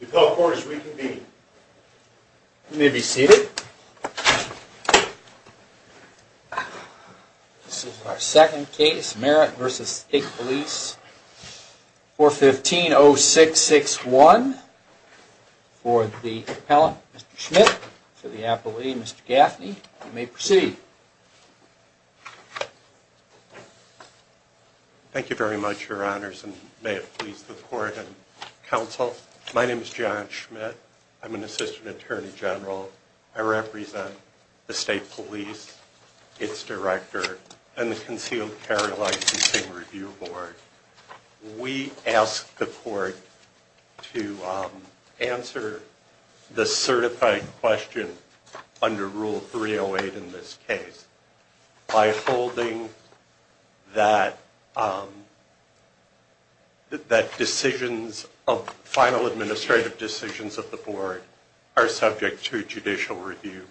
We may be seated. This is our second case, Merritt v. State Police, 415-0661. For the appellant, Mr. Schmidt. For the appellee, Mr. Gaffney. You may proceed. Thank you very much. My name is John Schmidt. I'm an assistant attorney general. I represent the state police, its director, and the concealed carry licensing review board. We ask the court to answer the decisions of the board are subject to judicial review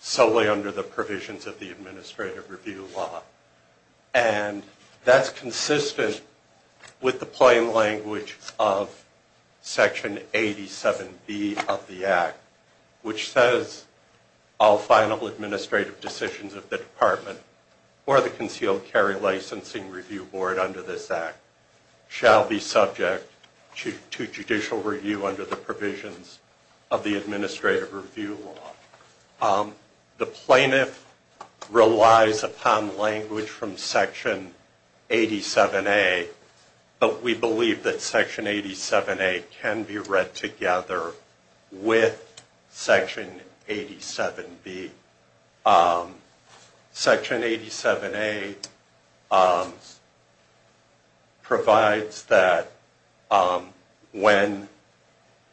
solely under the provisions of the administrative review law. And that's consistent with the plain language of Section 87B of the Act, which says all final administrative decisions of the department or the concealed carry licensing review board under this Act shall be subject to judicial review under the provisions of the administrative review law. The plaintiff relies upon language from Section 87A, but we believe that provides that when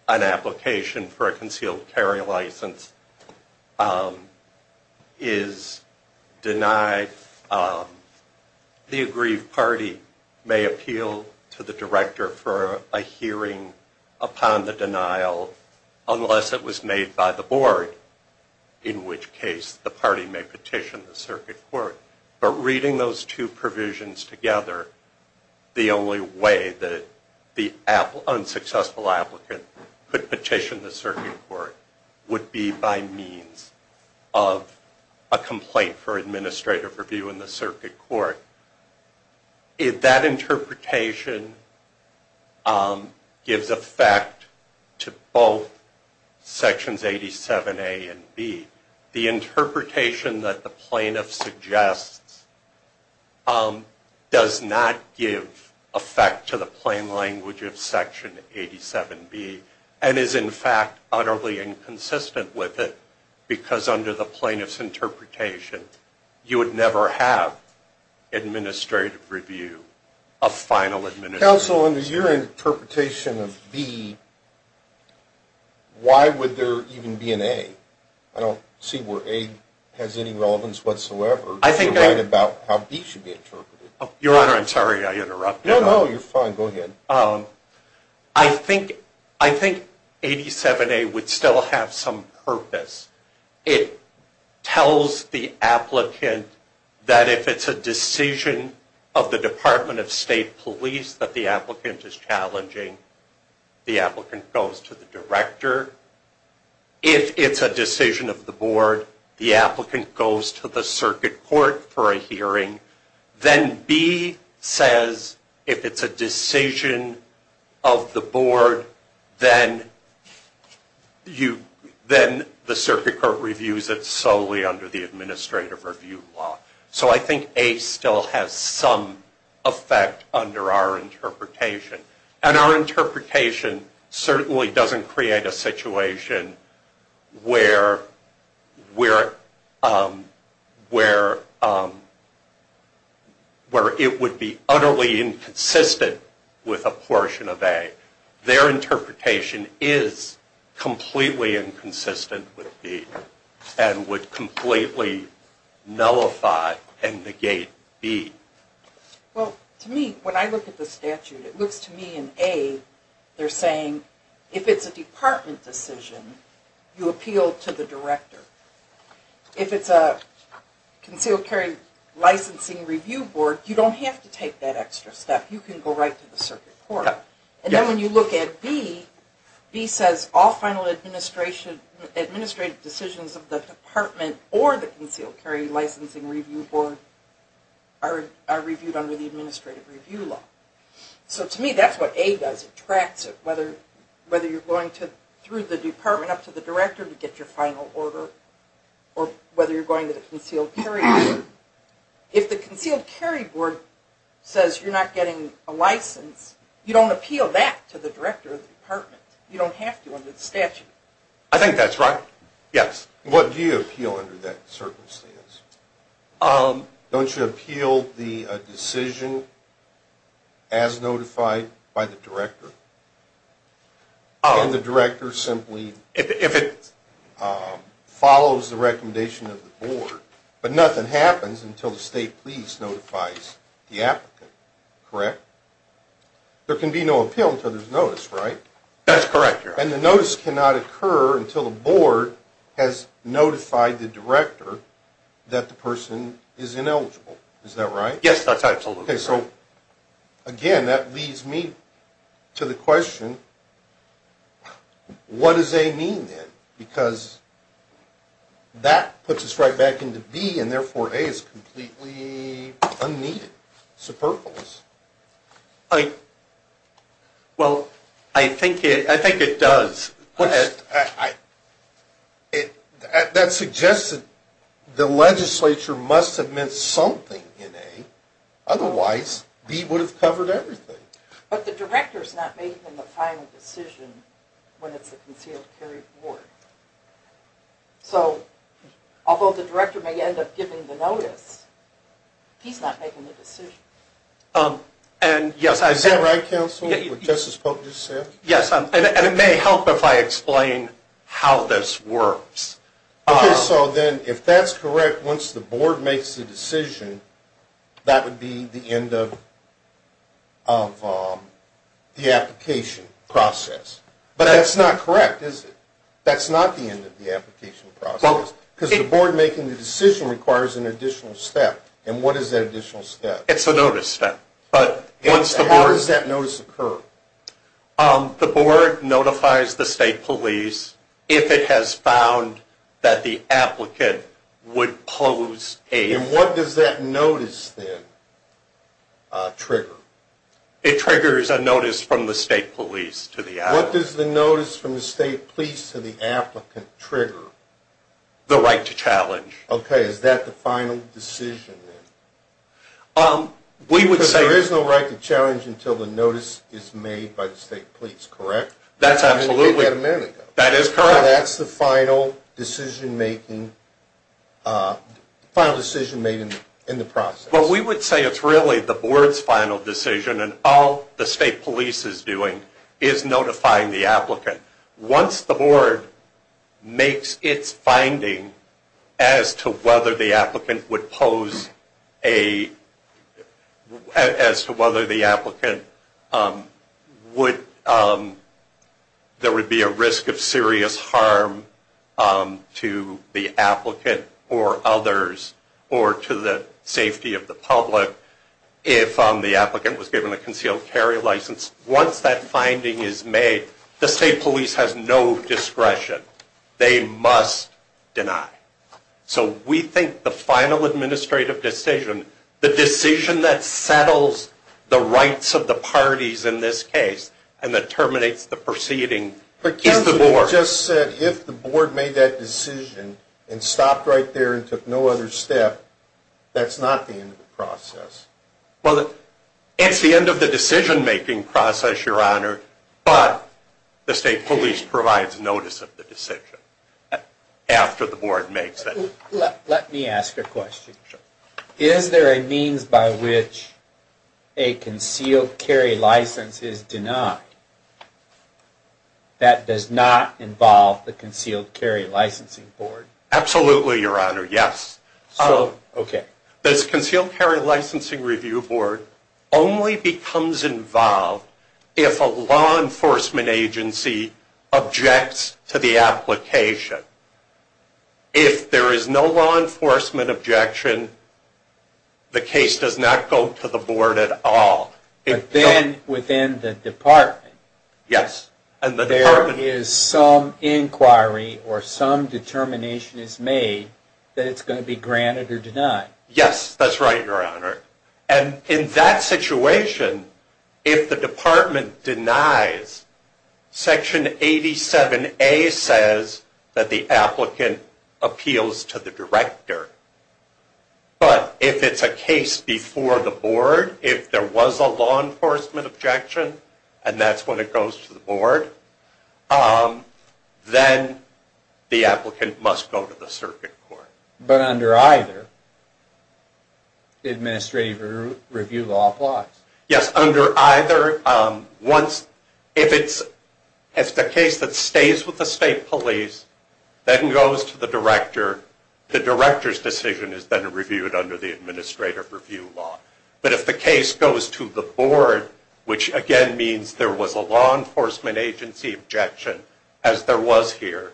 an application for a concealed carry license is denied, the aggrieved party may appeal to the director for a hearing upon the denial unless it was made by the board, in which case the party may the only way that the unsuccessful applicant could petition the circuit court would be by means of a complaint for administrative review in the circuit court. If that interpretation gives effect to both Sections 87A and B, the interpretation that the plaintiff suggests does not give effect to the plain language of Section 87B and is in fact utterly inconsistent with it because under the plaintiff's interpretation, you would never have administrative review of final administrative review. Counsel, under your interpretation of B, why would there even be an A? I don't see where A has any relevance whatsoever. You're right about how B should be interpreted. Your Honor, I'm sorry I interrupted. No, no, you're fine. Go ahead. I think 87A would still have some purpose. It tells the applicant that if it's a decision of the board and the applicant is challenging, the applicant goes to the director. If it's a decision of the board, the applicant goes to the circuit court for a hearing. Then B says if it's a decision of the board, then the circuit court reviews it solely under the administrative review law. So I think A still has some effect under our interpretation. And our interpretation certainly doesn't create a situation where it would be utterly inconsistent with a portion of A. Their interpretation is completely inconsistent with B and would completely nullify and negate B. Well, to me, when I look at the statute, it looks to me in A, they're saying if it's a department decision, you appeal to the director. If it's a concealed carry licensing review board, you don't have to take that extra step. You can go right to the circuit court. And then when you look at B, B says all final administrative decisions of the department or the concealed carry licensing review board are reviewed under the administrative review law. So to me, that's what A does. It tracks it, whether you're going through the department up to the director to get your final order or whether you're going to the concealed carry board. If the concealed carry board says you're not getting a license, you don't appeal that to the director of the department. You don't have to under the statute. I think that's right. Yes. What do you appeal under that circumstance? Don't you appeal the decision as notified by the director? And the director simply follows the recommendation of the board, but nothing happens until the state police notifies the applicant, correct? There can be no appeal until there's notice, right? That's correct, Your Honor. And the notice cannot occur until the board has notified the director that the person is ineligible. Is that right? Yes, that's absolutely right. Okay. So again, that leads me to the question, what does A mean then? Because that puts us right back into B, and therefore A is completely unneeded, superfluous. Well, I think it does. That suggests that the legislature must have meant something in A, otherwise B would have covered everything. But the director's not making the final decision when it's the concealed carry board. So although the director may end up giving the notice, he's not making the decision. Is that right, counsel, what Justice Polk just said? Yes, and it may help if I explain how this works. Okay, so then if that's correct, once the board makes the decision, that would be the end of the application process. But that's not correct, is it? That's not the end of the application process, because the board making the decision requires an additional step. And what is that additional step? It's a notice step. How does that notice occur? The board notifies the state police if it has found that the applicant would pose A. And what does that notice then trigger? It triggers a notice from the state police to the applicant. What does the notice from the state police to the applicant trigger? The right to challenge. Okay, is that the final decision then? We would say... Because there is no right to challenge until the notice is made by the state police, correct? That's absolutely... I mean, you gave that a minute ago. That is correct. So that's the final decision making, final decision made in the process. Well, we would say it's really the board's final decision, and all the state police is doing is notifying the applicant. Once the board makes its finding as to whether the applicant would pose A, as to whether the applicant would... If the applicant was given a concealed carry license. Once that finding is made, the state police has no discretion. They must deny. So we think the final administrative decision, the decision that settles the rights of the parties in this case, and that terminates the proceeding, is the board. You just said if the board made that decision and stopped right there and took no other step, that's not the end of the process. Well, it's the end of the decision making process, Your Honor, but the state police provides notice of the decision after the board makes it. Let me ask a question. Is there a means by which a concealed carry license is denied that does not involve the concealed carry licensing board? Absolutely, Your Honor, yes. Okay. This concealed carry licensing review board only becomes involved if a law enforcement agency objects to the application. If there is no law enforcement objection, the case does not go to the board at all. But then within the department, there is some inquiry or some determination is made that it's going to be granted or denied. Yes, that's right, Your Honor. And in that situation, if the department denies, Section 87A says that the applicant appeals to the director. But if it's a case before the board, if there was a law enforcement objection, and that's when it goes to the board, then the applicant must go to the circuit court. But under either, the administrative review law applies? Yes, under either. If it's a case that stays with the state police, then it goes to the director. The director's decision is then reviewed under the administrative review law. But if the case goes to the board, which again means there was a law enforcement agency objection, as there was here,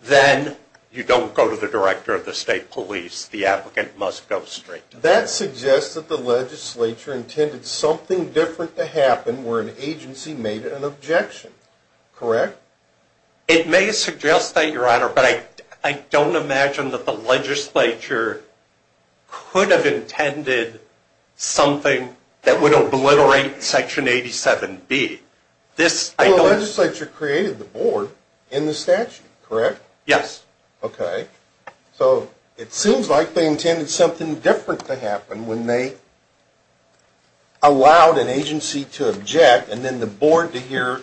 then you don't go to the director of the state police. The applicant must go straight to the board. That suggests that the legislature intended something different to happen where an agency made an objection, correct? It may suggest that, Your Honor, but I don't imagine that the legislature could have intended something that would obliterate Section 87B. The legislature created the board in the statute, correct? Yes. Okay. So it seems like they intended something different to happen when they allowed an agency to object and then the board to hear.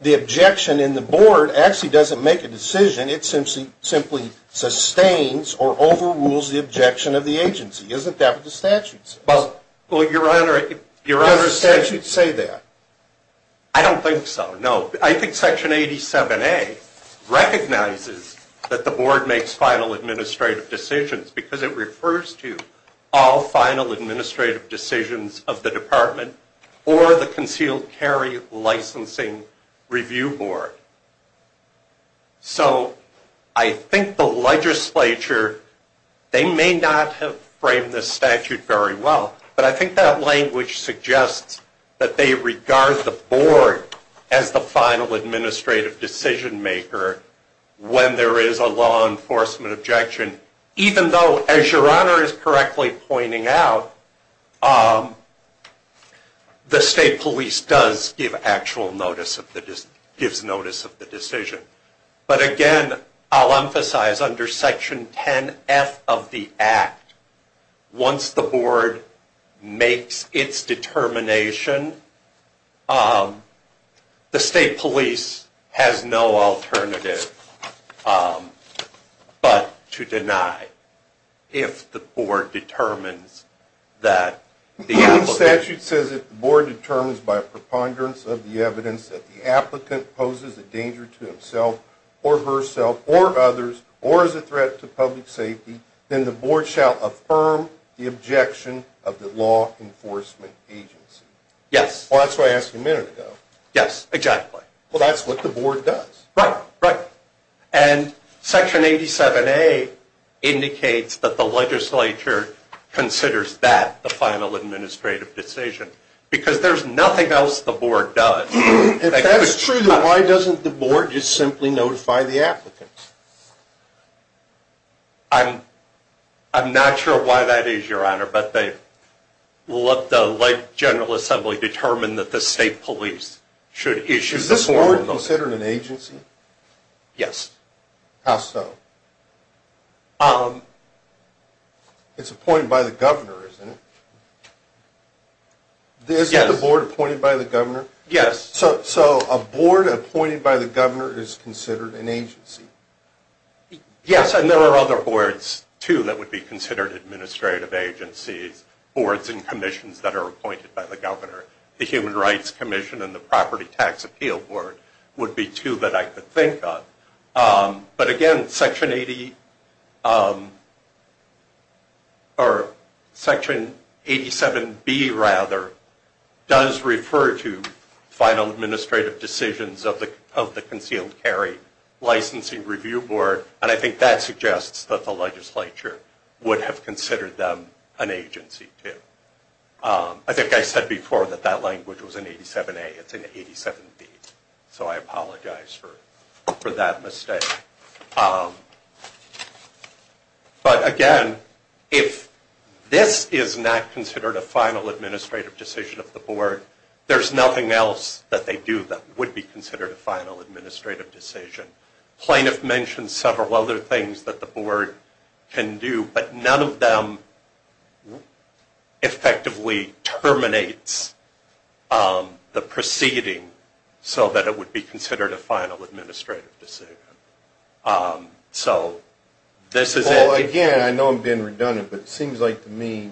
The objection in the board actually doesn't make a decision. It simply sustains or overrules the objection of the agency. Isn't that what the statute says? Well, Your Honor. Does the statute say that? I don't think so, no. I think Section 87A recognizes that the board makes final administrative decisions because it refers to all final administrative decisions of the department or the concealed carry licensing review board. So I think the legislature, they may not have framed this statute very well, but I think that language suggests that they regard the board as the final administrative decision maker when there is a law enforcement objection. Even though, as Your Honor is correctly pointing out, the state police does give actual notice of the decision. But again, I'll emphasize under Section 10F of the Act, once the board makes its determination, the state police has no alternative but to deny if the board determines that the applicant... or herself or others or is a threat to public safety, then the board shall affirm the objection of the law enforcement agency. Yes. Well, that's what I asked a minute ago. Yes, exactly. Well, that's what the board does. Right, right. And Section 87A indicates that the legislature considers that the final administrative decision because there's nothing else the board does. If that's true, then why doesn't the board just simply notify the applicant? I'm not sure why that is, Your Honor, but they let the General Assembly determine that the state police should issue the formal notice. Is this board considered an agency? Yes. How so? It's appointed by the governor, isn't it? Yes. Isn't the board appointed by the governor? Yes. So a board appointed by the governor is considered an agency? Yes, and there are other boards, too, that would be considered administrative agencies, boards and commissions that are appointed by the governor. The Human Rights Commission and the Property Tax Appeal Board would be two that I could think of. But again, Section 87B does refer to final administrative decisions of the Concealed Carry Licensing Review Board, and I think that suggests that the legislature would have considered them an agency, too. I think I said before that that language was in 87A, it's in 87B, so I apologize for that mistake. But again, if this is not considered a final administrative decision of the board, there's nothing else that they do that would be considered a final administrative decision. Plaintiff mentioned several other things that the board can do, but none of them effectively terminates the proceeding so that it would be considered a final administrative decision. Again, I know I'm being redundant, but it seems like to me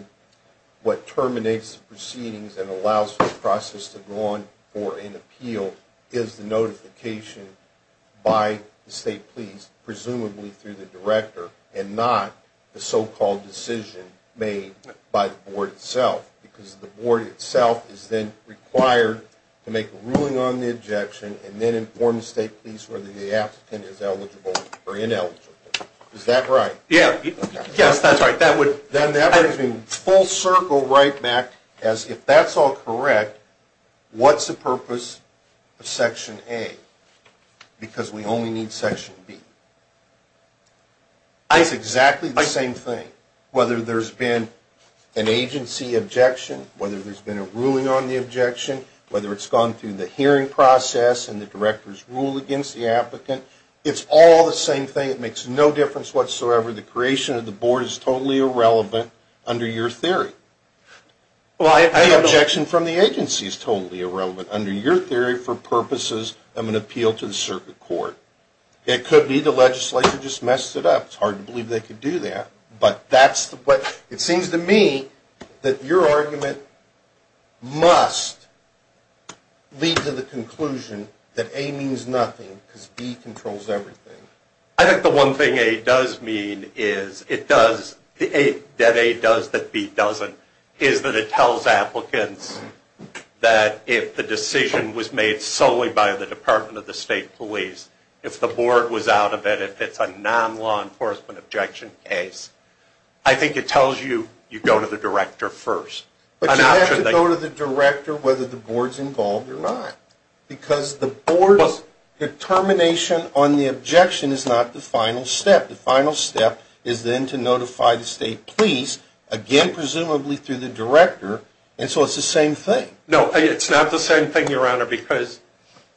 what terminates the proceedings and allows for the process to go on for an appeal is the notification by the state police, presumably through the director, and not the so-called decision made by the board itself, because the board itself is then required to make a ruling on the objection and then inform the state police whether the applicant is eligible or ineligible. Is that right? Yes, that's right. Then that brings me full circle right back as if that's all correct, what's the purpose of Section A? Because we only need Section B. It's exactly the same thing, whether there's been an agency objection, whether there's been a ruling on the objection, whether it's gone through the hearing process and the director's rule against the applicant, it's all the same thing. It makes no difference whatsoever. The creation of the board is totally irrelevant under your theory. The objection from the agency is totally irrelevant under your theory for purposes of an appeal to the circuit court. It could be the legislature just messed it up. It's hard to believe they could do that. But it seems to me that your argument must lead to the conclusion that A means nothing because B controls everything. I think the one thing A does mean is that B doesn't, is that it tells applicants that if the decision was made solely by the Department of the State Police, if the board was out of it, if it's a non-law enforcement objection case, I think it tells you you go to the director first. But you have to go to the director whether the board's involved or not. Because the board's determination on the objection is not the final step. The final step is then to notify the State Police, again presumably through the director, and so it's the same thing. No, it's not the same thing, Your Honor, because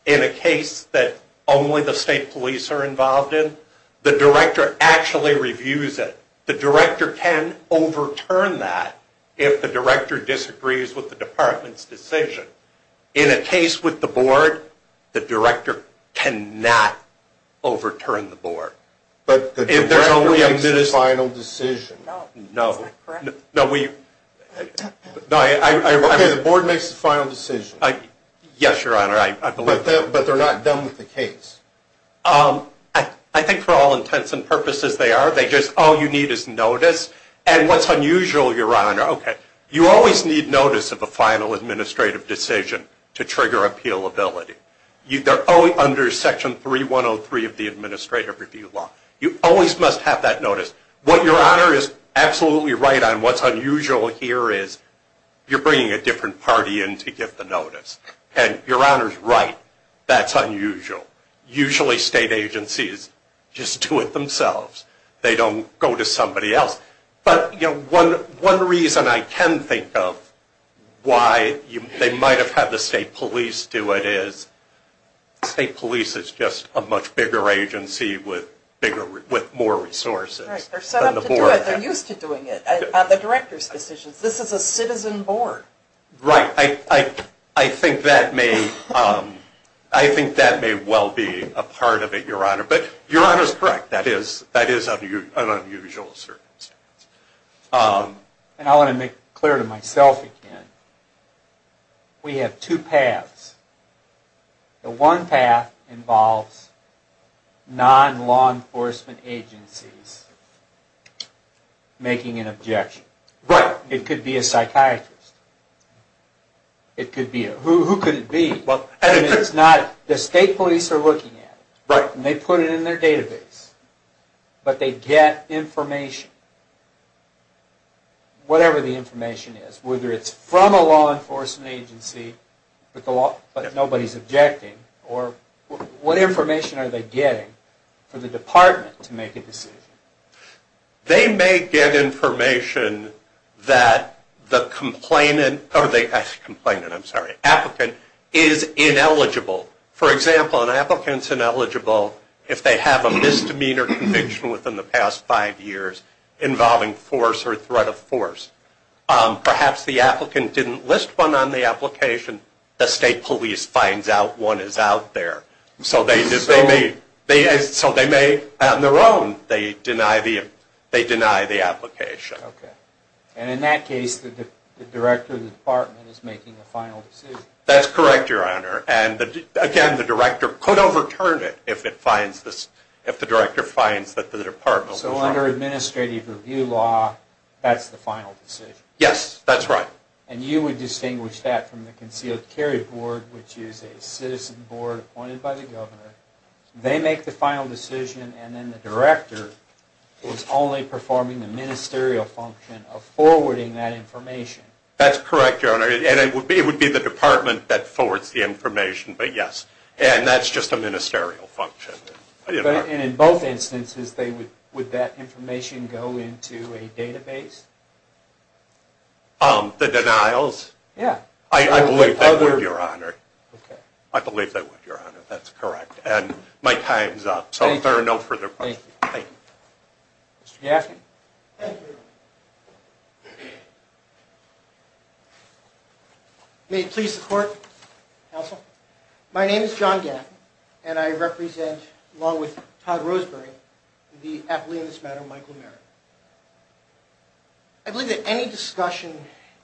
in a case that only the State Police are involved in, the director actually reviews it. The director can overturn that if the director disagrees with the department's decision. In a case with the board, the director cannot overturn the board. But the director makes the final decision. No. Is that correct? Okay, the board makes the final decision. Yes, Your Honor, I believe that. But they're not done with the case. I think for all intents and purposes they are. They just, all you need is notice. And what's unusual, Your Honor, okay, you always need notice of a final administrative decision to trigger appealability. They're under Section 3103 of the Administrative Review Law. You always must have that notice. What Your Honor is absolutely right on, what's unusual here is you're bringing a different party in to give the notice. And Your Honor's right, that's unusual. Usually state agencies just do it themselves. They don't go to somebody else. But, you know, one reason I can think of why they might have had the State Police do it is State Police is just a much bigger agency with more resources than the board. Right, they're set up to do it. They're used to doing it. The director's decisions. This is a citizen board. Right, I think that may well be a part of it, Your Honor. But Your Honor's correct, that is an unusual circumstance. And I want to make it clear to myself again. We have two paths. The one path involves non-law enforcement agencies making an objection. Right. It could be a psychiatrist. Who could it be? The State Police are looking at it. And they put it in their database. But they get information. Whatever the information is. Whether it's from a law enforcement agency, but nobody's objecting. Or what information are they getting for the department to make a decision? They may get information that the complainant is ineligible. For example, an applicant's ineligible if they have a misdemeanor conviction within the past five years involving force or threat of force. Perhaps the applicant didn't list one on the application. The State Police finds out one is out there. So they may have their own. They deny the application. And in that case, the director of the department is making the final decision. That's correct, Your Honor. And again, the director could overturn it if the director finds that the department was wrong. So under administrative review law, that's the final decision. Yes, that's right. And you would distinguish that from the Concealed Carry Board, which is a citizen board appointed by the governor. They make the final decision. And then the director was only performing the ministerial function of forwarding that information. That's correct, Your Honor. And it would be the department that forwards the information. But yes. And that's just a ministerial function. And in both instances, would that information go into a database? The denials? Yeah. I believe that would, Your Honor. Okay. I believe that would, Your Honor. That's correct. And my time's up. Thank you. So there are no further questions. Thank you. Mr. Gaffney. Thank you. May it please the Court, Counsel. My name is John Gaffney, and I represent, along with Todd Roseberry, the athlete in this matter, Michael Merritt. I believe that any discussion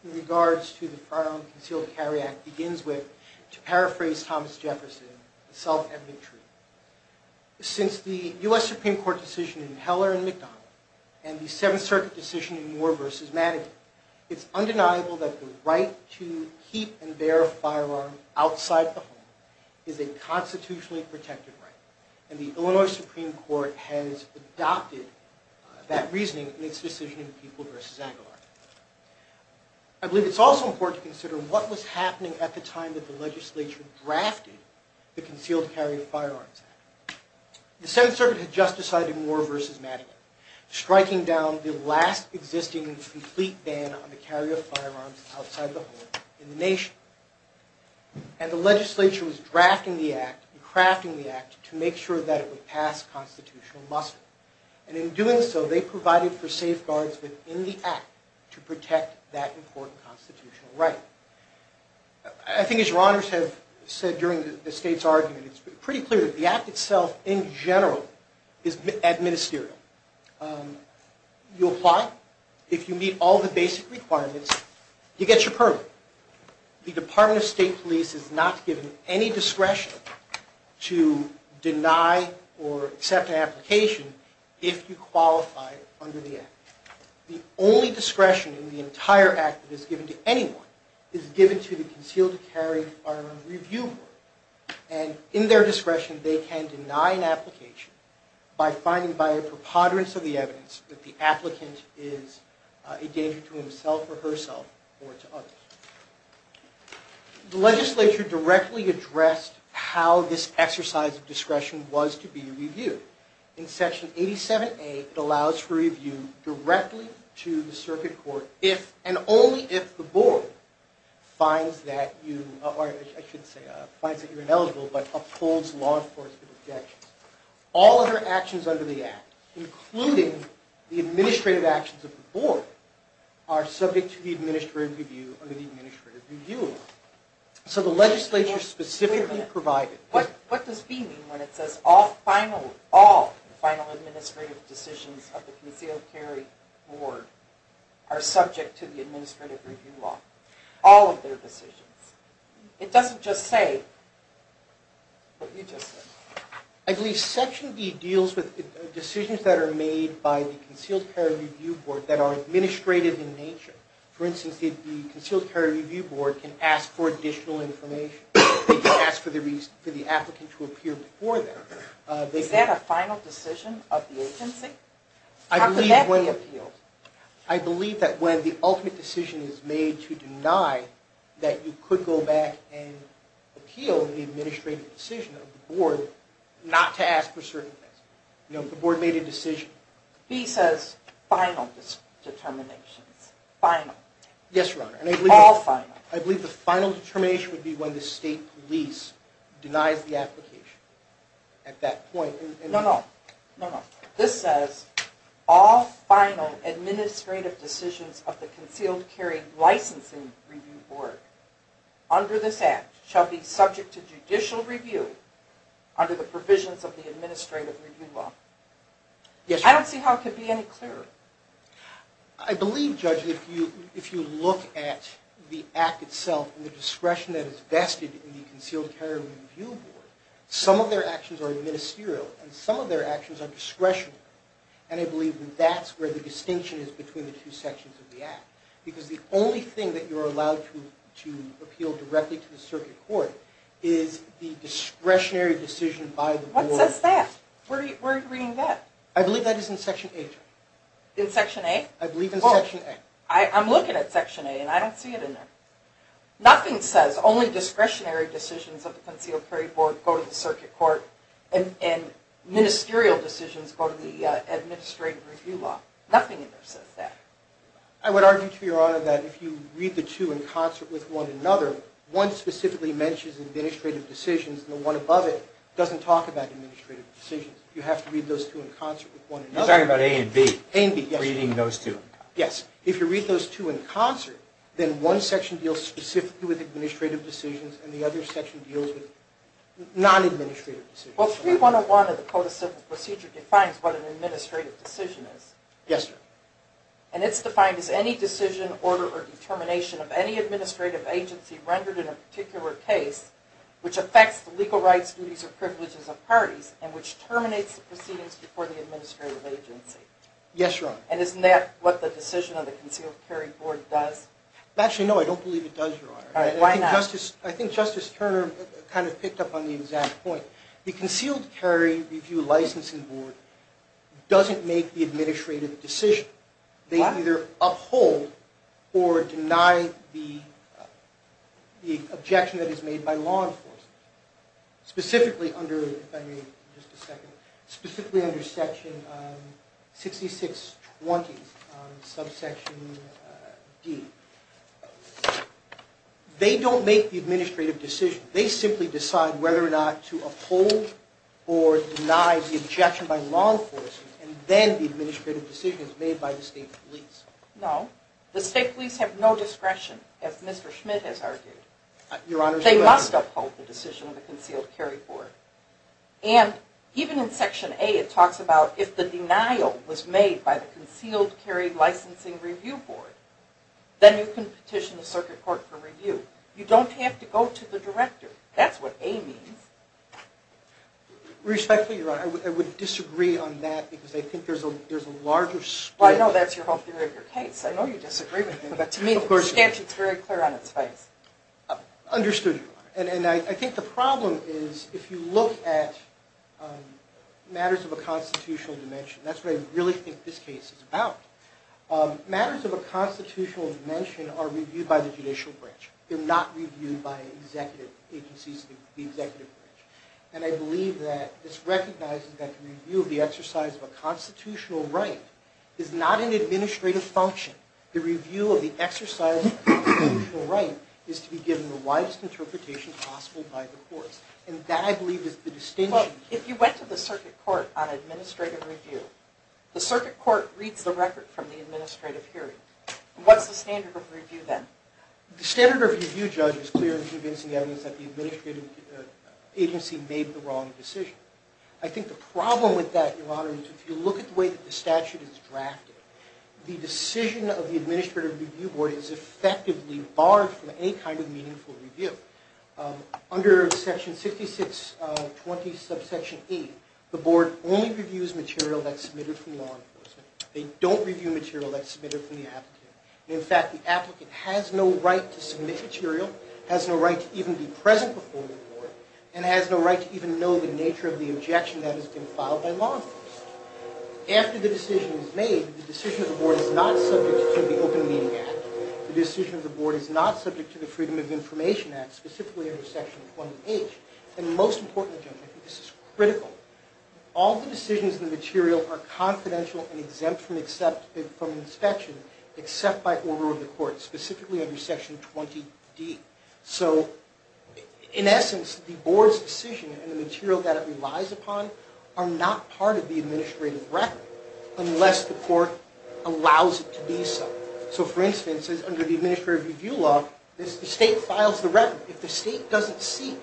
in regards to the Firearms and Concealed Carry Act begins with, to paraphrase Thomas Jefferson, self-evident truth. Since the U.S. Supreme Court decision in Heller v. McDonald and the Seventh Circuit decision in Moore v. Madigan, it's undeniable that the right to keep and bear a firearm outside the home is a constitutionally protected right. And the Illinois Supreme Court has adopted that reasoning in its decision in People v. Aguilar. I believe it's also important to consider what was happening at the time that the legislature drafted the Concealed Carry of Firearms Act. The Seventh Circuit had just decided in Moore v. Madigan, striking down the last existing complete ban on the carry of firearms outside the home in the nation. And the legislature was drafting the Act, crafting the Act, to make sure that it would pass constitutional muster. And in doing so, they provided for safeguards within the Act to protect that important constitutional right. I think as your Honors have said during the State's argument, it's pretty clear that the Act itself, in general, is administerial. You apply, if you meet all the basic requirements, you get your permit. However, the Department of State Police is not given any discretion to deny or accept an application if you qualify under the Act. The only discretion in the entire Act that is given to anyone is given to the Concealed Carry Firearms Review Board. And in their discretion, they can deny an application by finding by a preponderance of the evidence that the applicant is a danger to himself or herself or to others. The legislature directly addressed how this exercise of discretion was to be reviewed. In Section 87A, it allows for review directly to the Circuit Court if and only if the Board finds that you're ineligible but upholds law enforcement objections. All other actions under the Act, including the administrative actions of the Board, are subject to the administrative review under the Administrative Review Act. So the legislature specifically provided... Wait a minute. What does B mean when it says all final administrative decisions of the Concealed Carry Board are subject to the Administrative Review Law? All of their decisions. It doesn't just say what you just said. I believe Section B deals with decisions that are made by the Concealed Carry Review Board that are administrative in nature. For instance, the Concealed Carry Review Board can ask for additional information. They can ask for the applicant to appear before them. Is that a final decision of the agency? How could that be appealed? I believe that when the ultimate decision is made to deny, that you could go back and appeal the administrative decision of the Board not to ask for certain things. You know, if the Board made a decision. B says final determinations. Final. Yes, Your Honor. All final. I believe the final determination would be when the state police denies the application at that point. No, no. This says all final administrative decisions of the Concealed Carry Licensing Review Board under this Act shall be subject to judicial review under the provisions of the Administrative Review Law. Yes, Your Honor. I don't see how it could be any clearer. I believe, Judge, that if you look at the Act itself and the discretion that is vested in the Concealed Carry Review Board, some of their actions are administrative and some of their actions are discretionary. And I believe that that's where the distinction is between the two sections of the Act. Because the only thing that you're allowed to appeal directly to the Circuit Court is the discretionary decision by the Board. What says that? Where are you reading that? I believe that is in Section 8. In Section 8? I believe in Section 8. I'm looking at Section 8 and I don't see it in there. Nothing says only discretionary decisions of the Concealed Carry Board go to the Circuit Court and ministerial decisions go to the Administrative Review Law. Nothing in there says that. I would argue to Your Honor that if you read the two in concert with one another, one specifically mentions administrative decisions and the one above it doesn't talk about administrative decisions. You have to read those two in concert with one another. I'm talking about A and B. A and B, yes. Reading those two. Yes. If you read those two in concert, then one section deals specifically with administrative decisions and the other section deals with non-administrative decisions. Well, 3101 of the Code of Civil Procedure defines what an administrative decision is. Yes, sir. And it's defined as any decision, order, or determination of any administrative agency rendered in a particular case which affects the legal rights, duties, or privileges of parties and which terminates the proceedings before the administrative agency. Yes, Your Honor. And isn't that what the decision of the Concealed Carry Board does? Actually, no, I don't believe it does, Your Honor. Why not? I think Justice Turner kind of picked up on the exact point. The Concealed Carry Review Licensing Board doesn't make the administrative decision. Why? They do not either uphold or deny the objection that is made by law enforcement, specifically under Section 6620, subsection D. They don't make the administrative decision. They simply decide whether or not to uphold or deny the objection by law enforcement and then the administrative decision is made by the State Police. No. The State Police have no discretion, as Mr. Schmidt has argued. Your Honor. They must uphold the decision of the Concealed Carry Board. And even in Section A, it talks about if the denial was made by the Concealed Carry Licensing Review Board, then you can petition the Circuit Court for review. You don't have to go to the Director. That's what A means. Respectfully, Your Honor, I would disagree on that because I think there's a larger scope. Well, I know that's your whole theory of your case. I know you disagree with me, but to me the statute is very clear on its face. Understood, Your Honor. And I think the problem is if you look at matters of a constitutional dimension, that's what I really think this case is about. Matters of a constitutional dimension are reviewed by the judicial branch. They're not reviewed by the executive branch. And I believe that this recognizes that the review of the exercise of a constitutional right is not an administrative function. The review of the exercise of a constitutional right is to be given the widest interpretation possible by the courts. And that, I believe, is the distinction. If you went to the Circuit Court on administrative review, the Circuit Court reads the record from the administrative hearing. What's the standard of review then? The standard of review, Judge, is clear in convincing evidence that the administrative agency made the wrong decision. I think the problem with that, Your Honor, is if you look at the way that the statute is drafted, the decision of the Administrative Review Board is effectively barred from any kind of meaningful review. Under Section 6620 subsection 8, the Board only reviews material that's submitted from law enforcement. They don't review material that's submitted from the applicant. In fact, the applicant has no right to submit material, has no right to even be present before the Board, and has no right to even know the nature of the objection that has been filed by law enforcement. After the decision is made, the decision of the Board is not subject to the Open Meeting Act. The decision of the Board is not subject to the Freedom of Information Act, specifically under Section 20H. And most importantly, Judge, I think this is critical, all the decisions in the material are confidential and exempt from inspection except by order of the Court, specifically under Section 20D. So, in essence, the Board's decision and the material that it relies upon are not part of the administrative record unless the Court allows it to be so. So, for instance, under the Administrative Review Law, the State files the record. If the State doesn't seek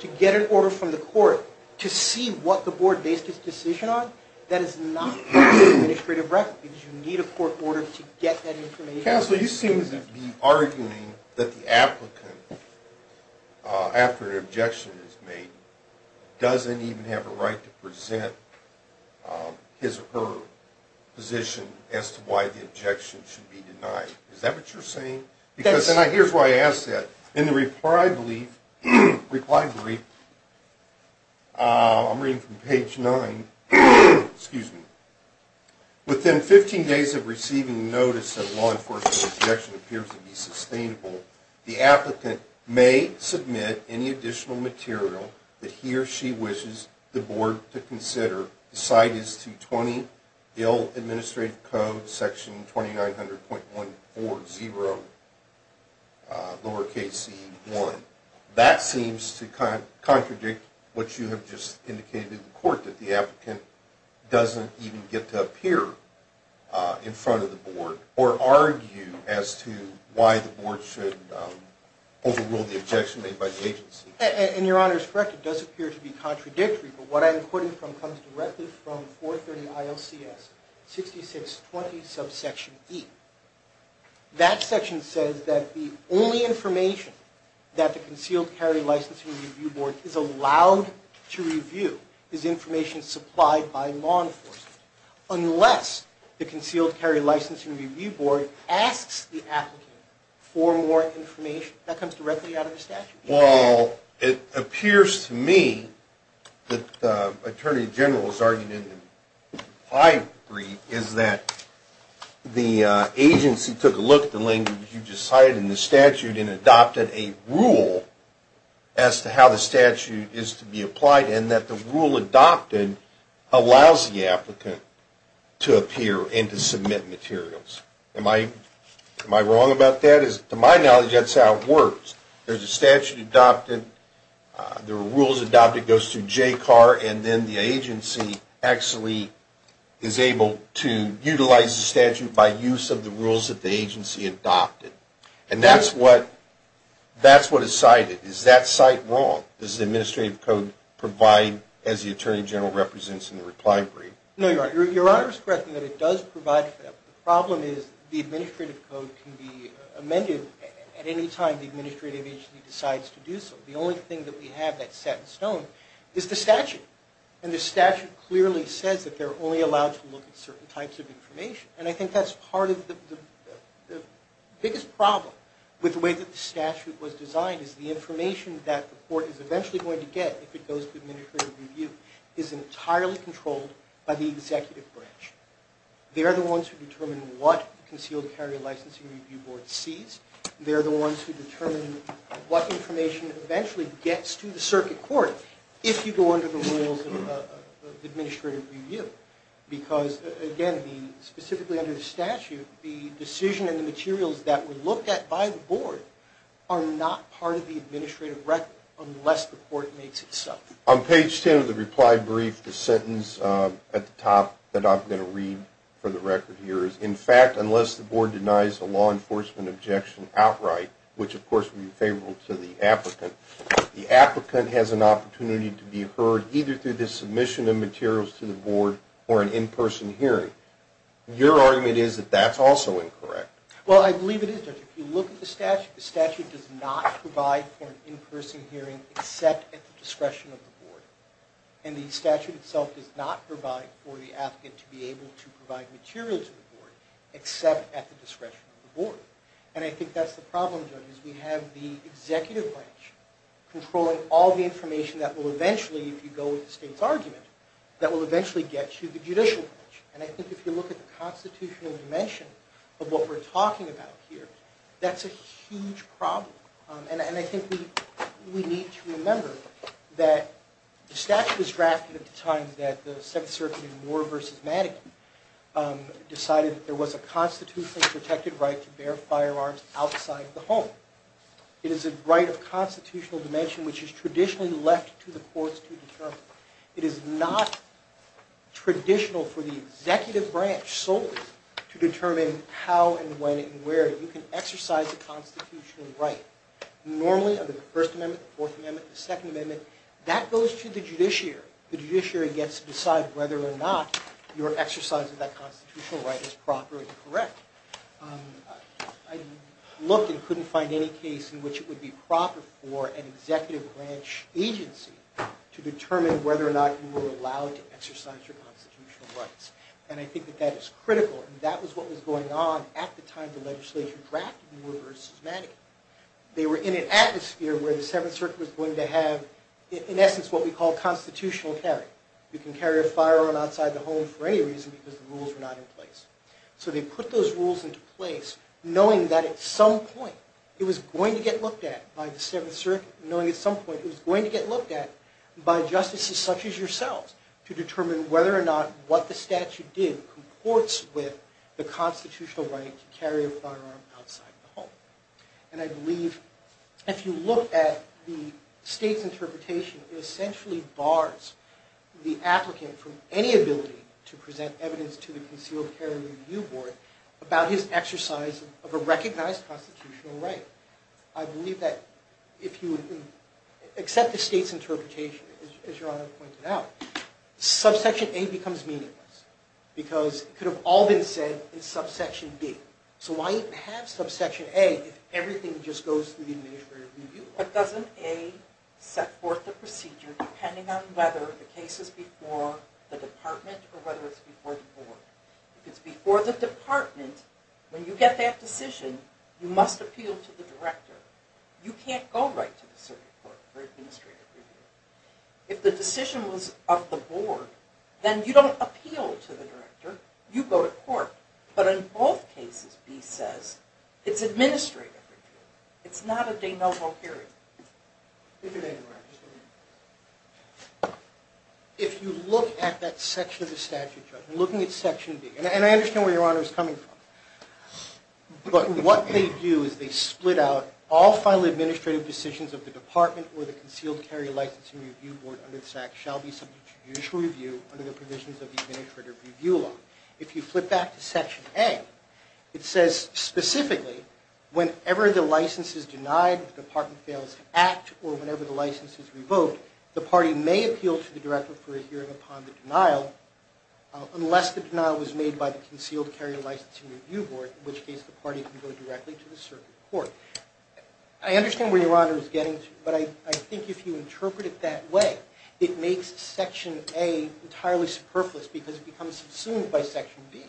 to get an order from the Court to see what the Board based its decision on, that is not part of the administrative record because you need a Court order to get that information. Counsel, you seem to be arguing that the applicant, after an objection is made, doesn't even have a right to present his or her position as to why the objection should be denied. Is that what you're saying? Yes. Because, and here's why I ask that. In the reply brief, I'm reading from page 9, within 15 days of receiving notice that a law enforcement objection appears to be sustainable, the applicant may submit any additional material that he or she wishes the Board to consider. The slide is 220, Bill Administrative Code, Section 2900.140, lowercase e1. That seems to contradict what you have just indicated to the Court, that the applicant doesn't even get to appear in front of the Board or argue as to why the Board should overrule the objection made by the agency. And your Honor is correct. It does appear to be contradictory, but what I'm quoting from comes directly from 430 ILCS 6620, subsection e. That section says that the only information that the Concealed Carry Licensing Review Board is allowed to review is information supplied by law enforcement, unless the Concealed Carry Licensing Review Board asks the applicant for more information. That comes directly out of the statute. Well, it appears to me that the Attorney General's argument in the reply brief is that the agency took a look at the language you just cited in the statute and adopted a rule as to how the statute is to be applied and that the rule adopted allows the applicant to appear and to submit materials. Am I wrong about that? To my knowledge, that's how it works. There's a statute adopted, the rules adopted goes through JCAR, and then the agency actually is able to utilize the statute by use of the rules that the agency adopted. And that's what is cited. Is that cite wrong? Does the administrative code provide as the Attorney General represents in the reply brief? No, Your Honor is correct in that it does provide for that. The problem is the administrative code can be amended at any time the administrative agency decides to do so. The only thing that we have that's set in stone is the statute. And the statute clearly says that they're only allowed to look at certain types of information. And I think that's part of the biggest problem with the way that the statute was designed is the information that the court is eventually going to get if it goes to administrative review is entirely controlled by the executive branch. They're the ones who determine what the Concealed Carry Licensing Review Board sees. They're the ones who determine what information eventually gets to the circuit court if you go under the rules of administrative review. Because, again, specifically under the statute, the decision and the materials that were looked at by the board are not part of the administrative record unless the court makes it so. On page 10 of the reply brief, the sentence at the top that I'm going to read for the record here is, in fact, unless the board denies a law enforcement objection outright, which of course would be favorable to the applicant, the applicant has an opportunity to be heard either through the submission of materials to the board or an in-person hearing. Your argument is that that's also incorrect. Well, I believe it is, Judge. If you look at the statute, the statute does not provide for an in-person hearing except at the discretion of the board. And the statute itself does not provide for the applicant to be able to provide materials to the board except at the discretion of the board. And I think that's the problem, Judge, is we have the executive branch controlling all the information that will eventually, if you go with the state's argument, that will eventually get to the judicial branch. And I think if you look at the constitutional dimension of what we're talking about here, that's a huge problem. And I think we need to remember that the statute was drafted at the time that the Seventh Circuit in Moore v. Madigan decided that there was a constitutionally protected right to bear firearms outside the home. It is a right of constitutional dimension which is traditionally left to the courts to determine. It is not traditional for the executive branch solely to determine how and when and where you can exercise a constitutional right. Normally, under the First Amendment, the Fourth Amendment, the Second Amendment, that goes to the judiciary. The judiciary gets to decide whether or not your exercise of that constitutional right is proper and correct. I looked and couldn't find any case in which it would be proper for an executive branch agency to determine whether or not you were allowed to exercise your constitutional rights. And I think that that is critical. That was what was going on at the time the legislature drafted Moore v. Madigan. They were in an atmosphere where the Seventh Circuit was going to have, in essence, what we call constitutional carry. You can carry a firearm outside the home for any reason because the rules were not in place. So they put those rules into place knowing that at some point it was going to get looked at by the Seventh Circuit, knowing at some point it was going to get looked at by justices such as yourselves to determine whether or not what the statute did comports with the constitutional right to carry a firearm outside the home. And I believe if you look at the state's interpretation, it essentially bars the applicant from any ability to present evidence to the concealed carry review board about his exercise of a recognized constitutional right. I believe that if you accept the state's interpretation, as Your Honor pointed out, subsection A becomes meaningless because it could have all been said in subsection B. So why even have subsection A if everything just goes through the administrative review board? What doesn't A set forth the procedure depending on whether the case is before the department or whether it's before the board? If it's before the department, when you get that decision, you must appeal to the director. You can't go right to the circuit court for administrative review. If the decision was of the board, then you don't appeal to the director. You go to court. But in both cases, B says, it's administrative review. It's not a de novo hearing. If you look at that section of the statute, looking at section B, and I understand where Your Honor is coming from, but what they do is they split out all final administrative decisions of the department or the concealed carry licensing review board under the statute shall be subject to judicial review under the provisions of the administrative review law. If you flip back to section A, it says specifically whenever the license is denied, the department fails to act, or whenever the license is revoked, the party may appeal to the director for a hearing upon the denial unless the denial was made by the concealed carry licensing review board, in which case the party can go directly to the circuit court. I understand where Your Honor is getting to, but I think if you interpret it that way, it makes section A entirely superfluous because it becomes subsumed by section B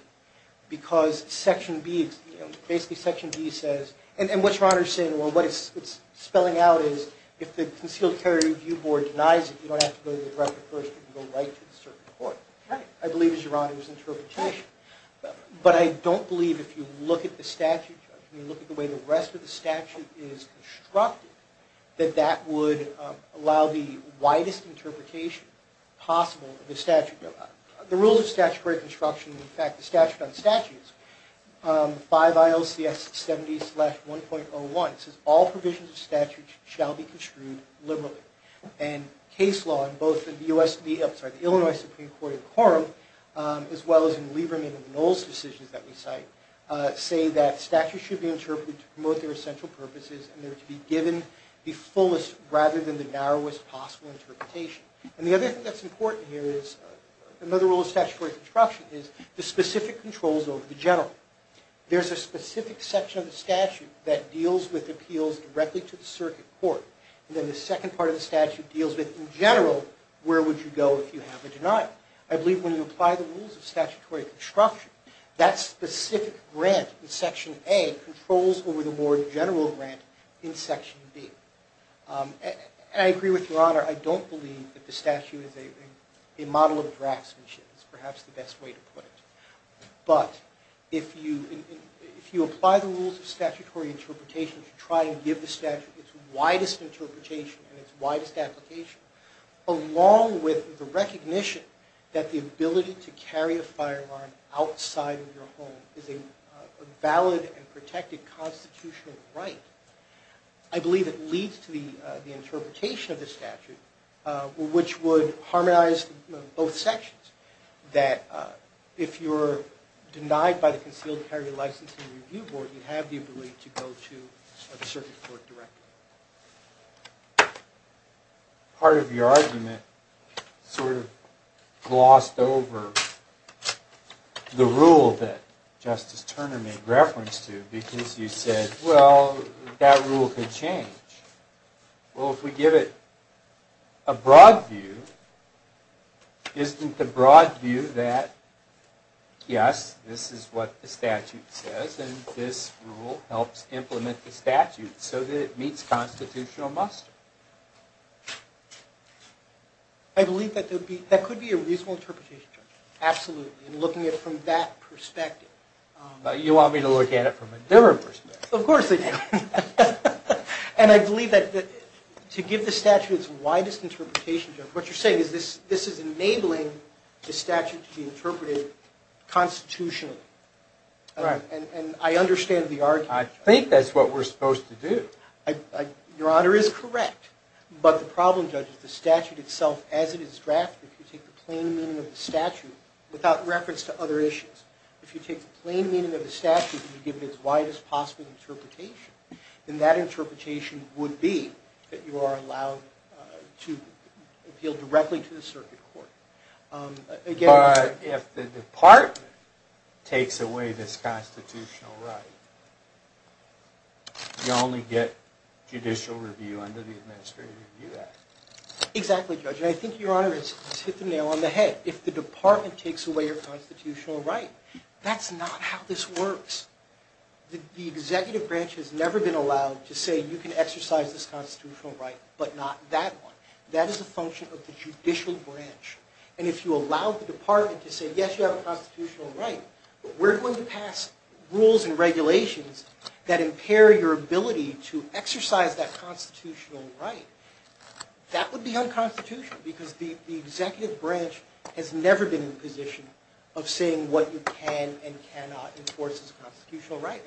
because basically section B says, and what Your Honor is saying, what it's spelling out is if the concealed carry review board denies it, you don't have to go to the director first. You can go right to the circuit court, I believe is Your Honor's interpretation. But I don't believe if you look at the statute, if you look at the way the rest of the statute is constructed, that that would allow the widest interpretation possible of the statute. The rules of statutory construction, in fact, the statute on statutes, 5 ILCS 70-1.01, it says all provisions of statute shall be construed liberally. And case law in both the Illinois Supreme Court and quorum, as well as in Lieberman and Knowles' decisions that we cite, say that statutes should be interpreted to promote their essential purposes and they're to be given the fullest rather than the narrowest possible interpretation. And the other thing that's important here is another rule of statutory construction is the specific controls over the general. There's a specific section of the statute that deals with appeals directly to the circuit court, and then the second part of the statute deals with, in general, where would you go if you have a denial. I believe when you apply the rules of statutory construction, that specific grant in section A controls over the more general grant in section B. And I agree with Your Honor, I don't believe that the statute is a model of draftsmanship, is perhaps the best way to put it. But if you apply the rules of statutory interpretation to try and give the statute its widest interpretation and its widest application, along with the recognition that the ability to carry a firearm outside of your home is a valid and protected constitutional right, I believe it leads to the interpretation of the statute, which would harmonize both sections, that if you're denied by the Concealed Carry Licensing Review Board, you have the ability to go to a circuit court directly. Part of your argument sort of glossed over the rule that Justice Turner made reference to, because you said, well, that rule could change. Well, if we give it a broad view, isn't the broad view that, yes, this is what the statute says, and this rule helps implement the statute so that it meets constitutional muster? I believe that could be a reasonable interpretation, Judge. Absolutely, and looking at it from that perspective. You want me to look at it from a different perspective? Of course I do. And I believe that to give the statute its widest interpretation, Judge, what you're saying is this is enabling the statute to be interpreted constitutionally. And I understand the argument. I think that's what we're supposed to do. Your Honor is correct. But the problem, Judge, is the statute itself, as it is drafted, if you take the plain meaning of the statute without reference to other issues, if you take the plain meaning of the statute and you give it its widest possible interpretation, then that interpretation would be that you are allowed to appeal directly to the circuit court. But if the department takes away this constitutional right, you only get judicial review under the Administrative Review Act. Exactly, Judge. And I think, Your Honor, it's hit the nail on the head. If the department takes away your constitutional right, that's not how this works. The executive branch has never been allowed to say, you can exercise this constitutional right, but not that one. That is a function of the judicial branch. And if you allow the department to say, yes, you have a constitutional right, but we're going to pass rules and regulations that impair your ability to exercise that constitutional right, that would be unconstitutional because the executive branch has never been in a position of saying what you can and cannot enforce as a constitutional right.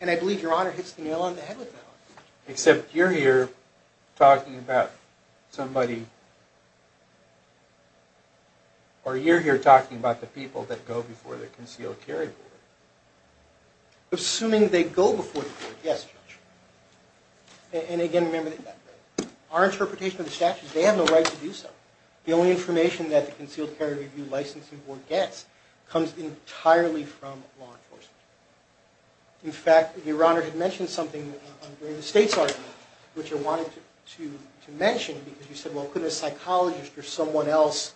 And I believe Your Honor hits the nail on the head with that one. Except you're here talking about somebody, or you're here talking about the people that go before the Concealed Carry Board. Assuming they go before the board, yes, Judge. And again, remember, our interpretation of the statute, they have the right to do so. The only information that the Concealed Carry Review licensing board gets comes entirely from law enforcement. In fact, Your Honor had mentioned something during the state's argument, which I wanted to mention because you said, well, could a psychologist or someone else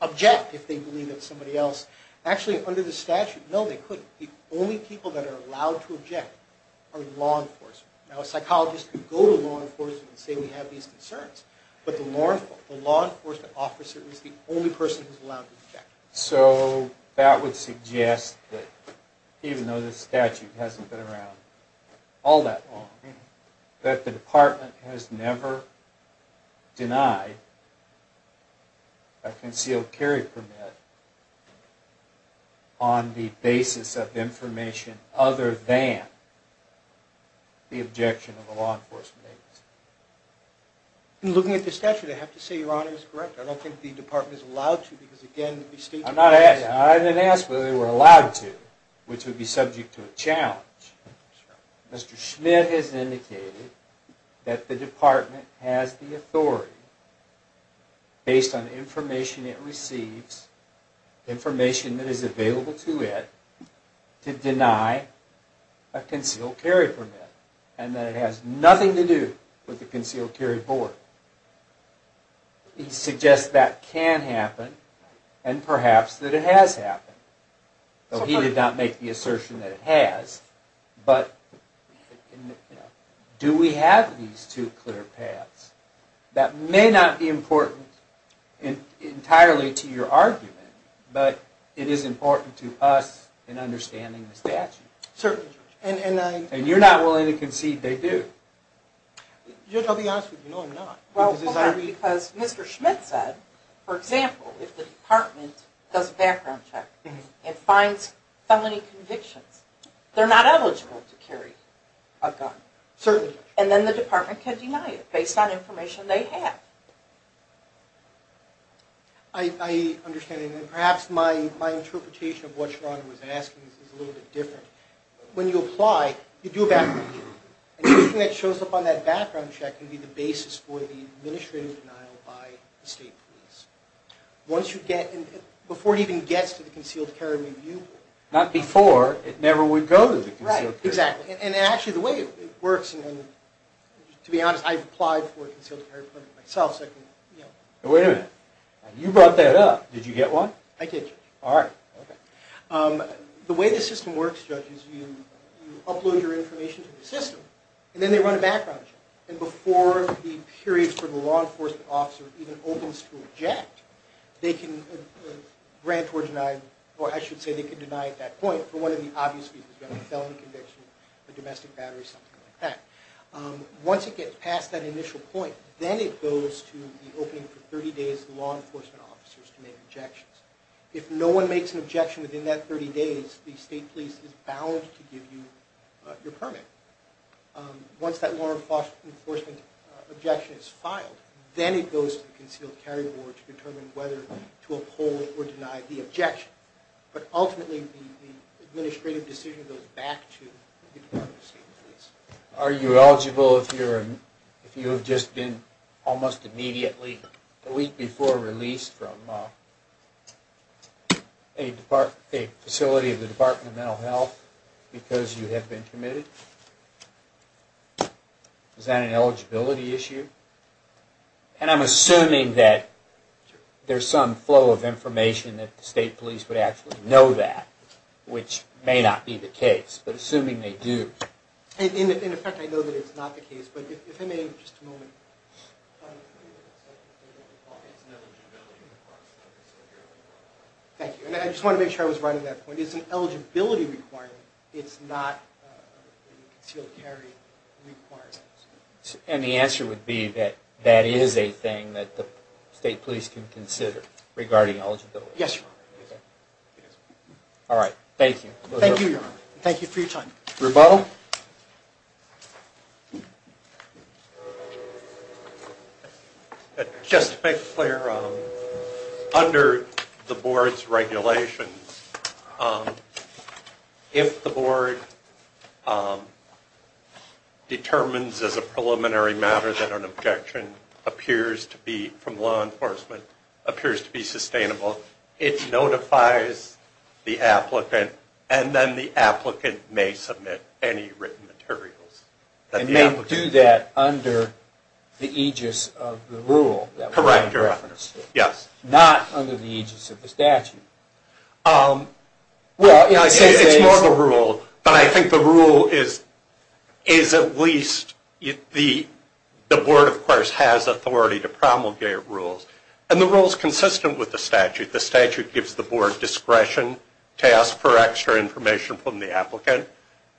object if they believe that somebody else? Actually, under the statute, no, they couldn't. The only people that are allowed to object are law enforcement. Now, a psychologist can go to law enforcement and say we have these concerns, but the law enforcement officer is the only person who's allowed to object. So that would suggest that even though the statute hasn't been around all that long, that the department has never denied a concealed carry permit on the basis of information other than the objection of a law enforcement agency. In looking at the statute, I have to say Your Honor is correct. I don't think the department is allowed to because, again, the state... I didn't ask whether they were allowed to, which would be subject to a challenge. Mr. Schmidt has indicated that the department has the authority based on information it receives, information that is available to it, to deny a concealed carry permit and that it has nothing to do with the concealed carry board. He suggests that can happen and perhaps that it has happened. He did not make the assertion that it has, but do we have these two clear paths? That may not be important entirely to your argument, but it is important to us in understanding the statute. Certainly, Judge. And you're not willing to concede they do. Judge, I'll be honest with you. No, I'm not. Because Mr. Schmidt said, for example, if the department does a background check and finds felony convictions, they're not eligible to carry a gun. Certainly. And then the department can deny it based on information they have. I understand. And perhaps my interpretation of what Your Honor was asking is a little bit different. When you apply, you do a background check. Anything that shows up on that background check can be the basis for the administrative denial by the state police. Before it even gets to the concealed carry review board. Not before, it never would go to the concealed carry board. Right, exactly. And actually, the way it works, and to be honest, I've applied for a concealed carry permit myself. Wait a minute. You brought that up. Did you get one? I did, Judge. All right. The way the system works, Judge, is you upload your information to the system, and then they run a background check. And before the period for the law enforcement officer even opens to object, they can grant or deny, or I should say they can deny at that point, for one of the obvious reasons, a felony conviction, a domestic battery, something like that. Once it gets past that initial point, then it goes to the opening for 30 days for the law enforcement officers to make objections. If no one makes an objection within that 30 days, the state police is bound to give you your permit. Once that law enforcement objection is filed, then it goes to the concealed carry board to determine whether to uphold or deny the objection. But ultimately, the administrative decision goes back to the Department of State and Police. Are you eligible if you have just been almost immediately, a week before release, from a facility of the Department of Mental Health because you have been committed? Is that an eligibility issue? And I'm assuming that there's some flow of information that the state police would actually know that, which may not be the case. In effect, I know that it's not the case. But if I may, just a moment. Thank you. And I just want to make sure I was right on that point. It's an eligibility requirement. It's not a concealed carry requirement. And the answer would be that that is a thing that the state police can consider regarding eligibility. Yes, Your Honor. All right. Thank you. Thank you, Your Honor. Thank you for your time. Rebel? Just to make it clear, under the board's regulations, if the board determines as a preliminary matter that an objection appears to be from law enforcement, appears to be sustainable, it notifies the applicant, and then the applicant may submit any written materials. And they do that under the aegis of the rule that we're in reference to? Correct, Your Honor. Yes. Not under the aegis of the statute? Well, it's more of a rule. But I think the rule is at least the board, of course, has authority to promulgate rules. And the rule is consistent with the statute. The statute gives the board discretion to ask for extra information from the applicant.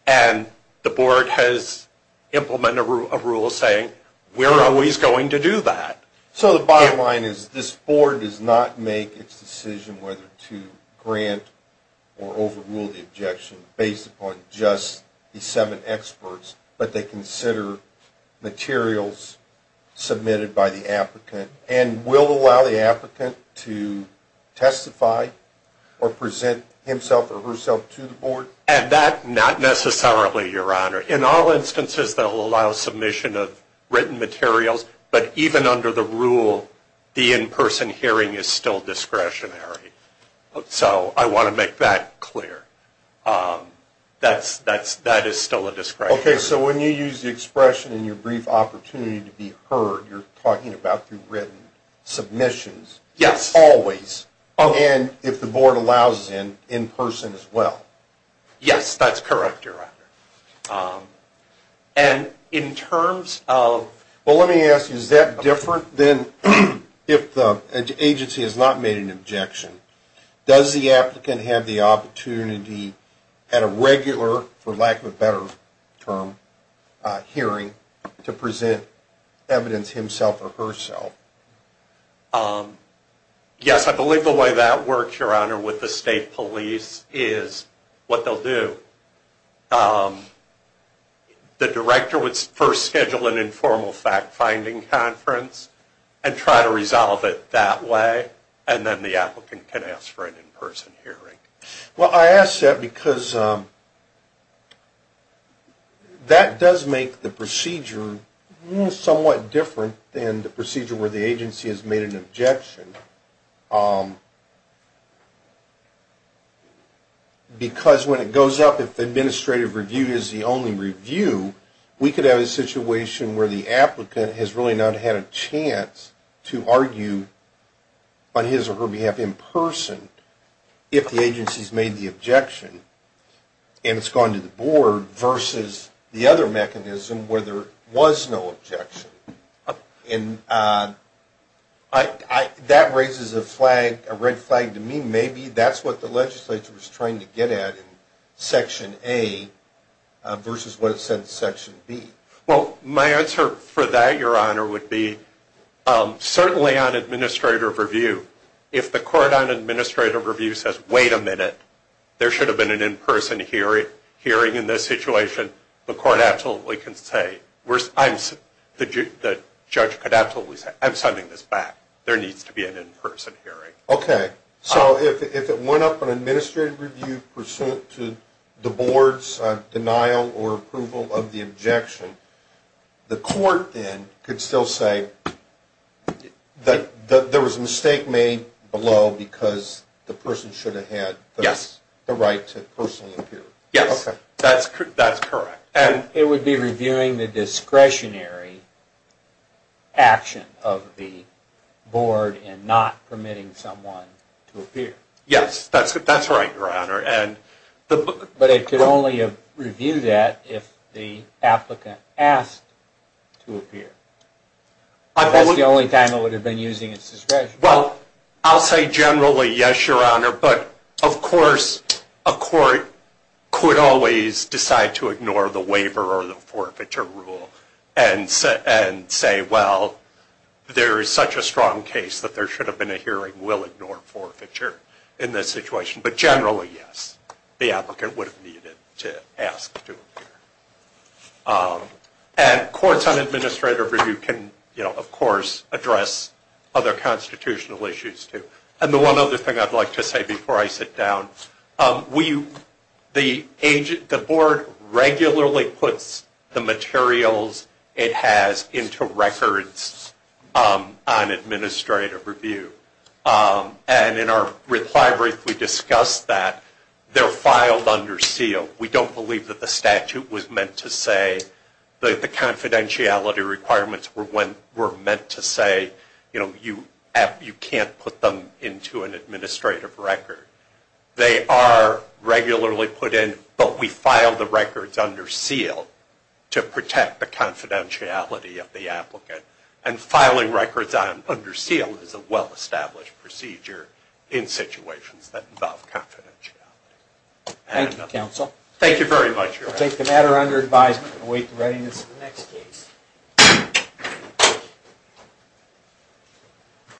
And the board has implemented a rule saying we're always going to do that. So the bottom line is this board does not make its decision whether to grant or overrule the objection based upon just the seven experts, but they consider materials submitted by the applicant and will allow the applicant to testify or present himself or herself to the board? And that, not necessarily, Your Honor. In all instances, they'll allow submission of written materials. But even under the rule, the in-person hearing is still discretionary. So I want to make that clear. That is still a discretionary rule. Okay. So when you use the expression in your brief opportunity to be heard, you're talking about through written submissions? Yes. Always? Always. And if the board allows it, in person as well? Yes. That's correct, Your Honor. And in terms of... Well, let me ask you, is that different than if the agency has not made an objection? Does the applicant have the opportunity at a regular, for lack of a better term, hearing, to present evidence himself or herself? Yes, I believe the way that works, Your Honor, with the state police is what they'll do. The director would first schedule an informal fact-finding conference and try to resolve it that way. And then the applicant can ask for an in-person hearing. Well, I ask that because that does make the procedure somewhat different than the procedure where the agency has made an objection. Because when it goes up, if administrative review is the only review, we could have a situation where the applicant has really not had a chance to argue on his or her behalf in person if the agency's made the objection and it's gone to the board versus the other mechanism where there was no objection. And that raises a flag, a red flag to me. Maybe that's what the legislature was trying to get at in Section A versus what it said in Section B. Well, my answer for that, Your Honor, would be certainly on administrative review, if the court on administrative review says, wait a minute, there should have been an in-person hearing in this situation, the court absolutely can say, the judge could absolutely say, I'm sending this back. There needs to be an in-person hearing. Okay. So if it went up on administrative review pursuant to the board's denial or approval of the objection, the court then could still say that there was a mistake made below because the person should have had the right to personally appear. Yes. That's correct. It would be reviewing the discretionary action of the board in not permitting someone to appear. Yes, that's right, Your Honor. But it could only have reviewed that if the applicant asked to appear. That's the only time it would have been using its discretion. Well, I'll say generally yes, Your Honor, but of course a court could always decide to ignore the waiver or the forfeiture rule and say, well, there is such a strong case that there should have been a hearing, we'll ignore forfeiture in this situation. But generally, yes, the applicant would have needed to ask to appear. And courts on administrative review can, you know, of course, address other constitutional issues too. And the one other thing I'd like to say before I sit down, the board regularly puts the materials it has into records on administrative review. And in our reply brief we discussed that. They're filed under seal. We don't believe that the statute was meant to say, the confidentiality requirements were meant to say, you know, you can't put them into an administrative record. They are regularly put in, but we file the records under seal to protect the confidentiality of the applicant. And filing records under seal is a well-established procedure in situations that involve confidentiality. Thank you, counsel. Thank you very much. We'll take the matter under advisement and await the readiness of the next case.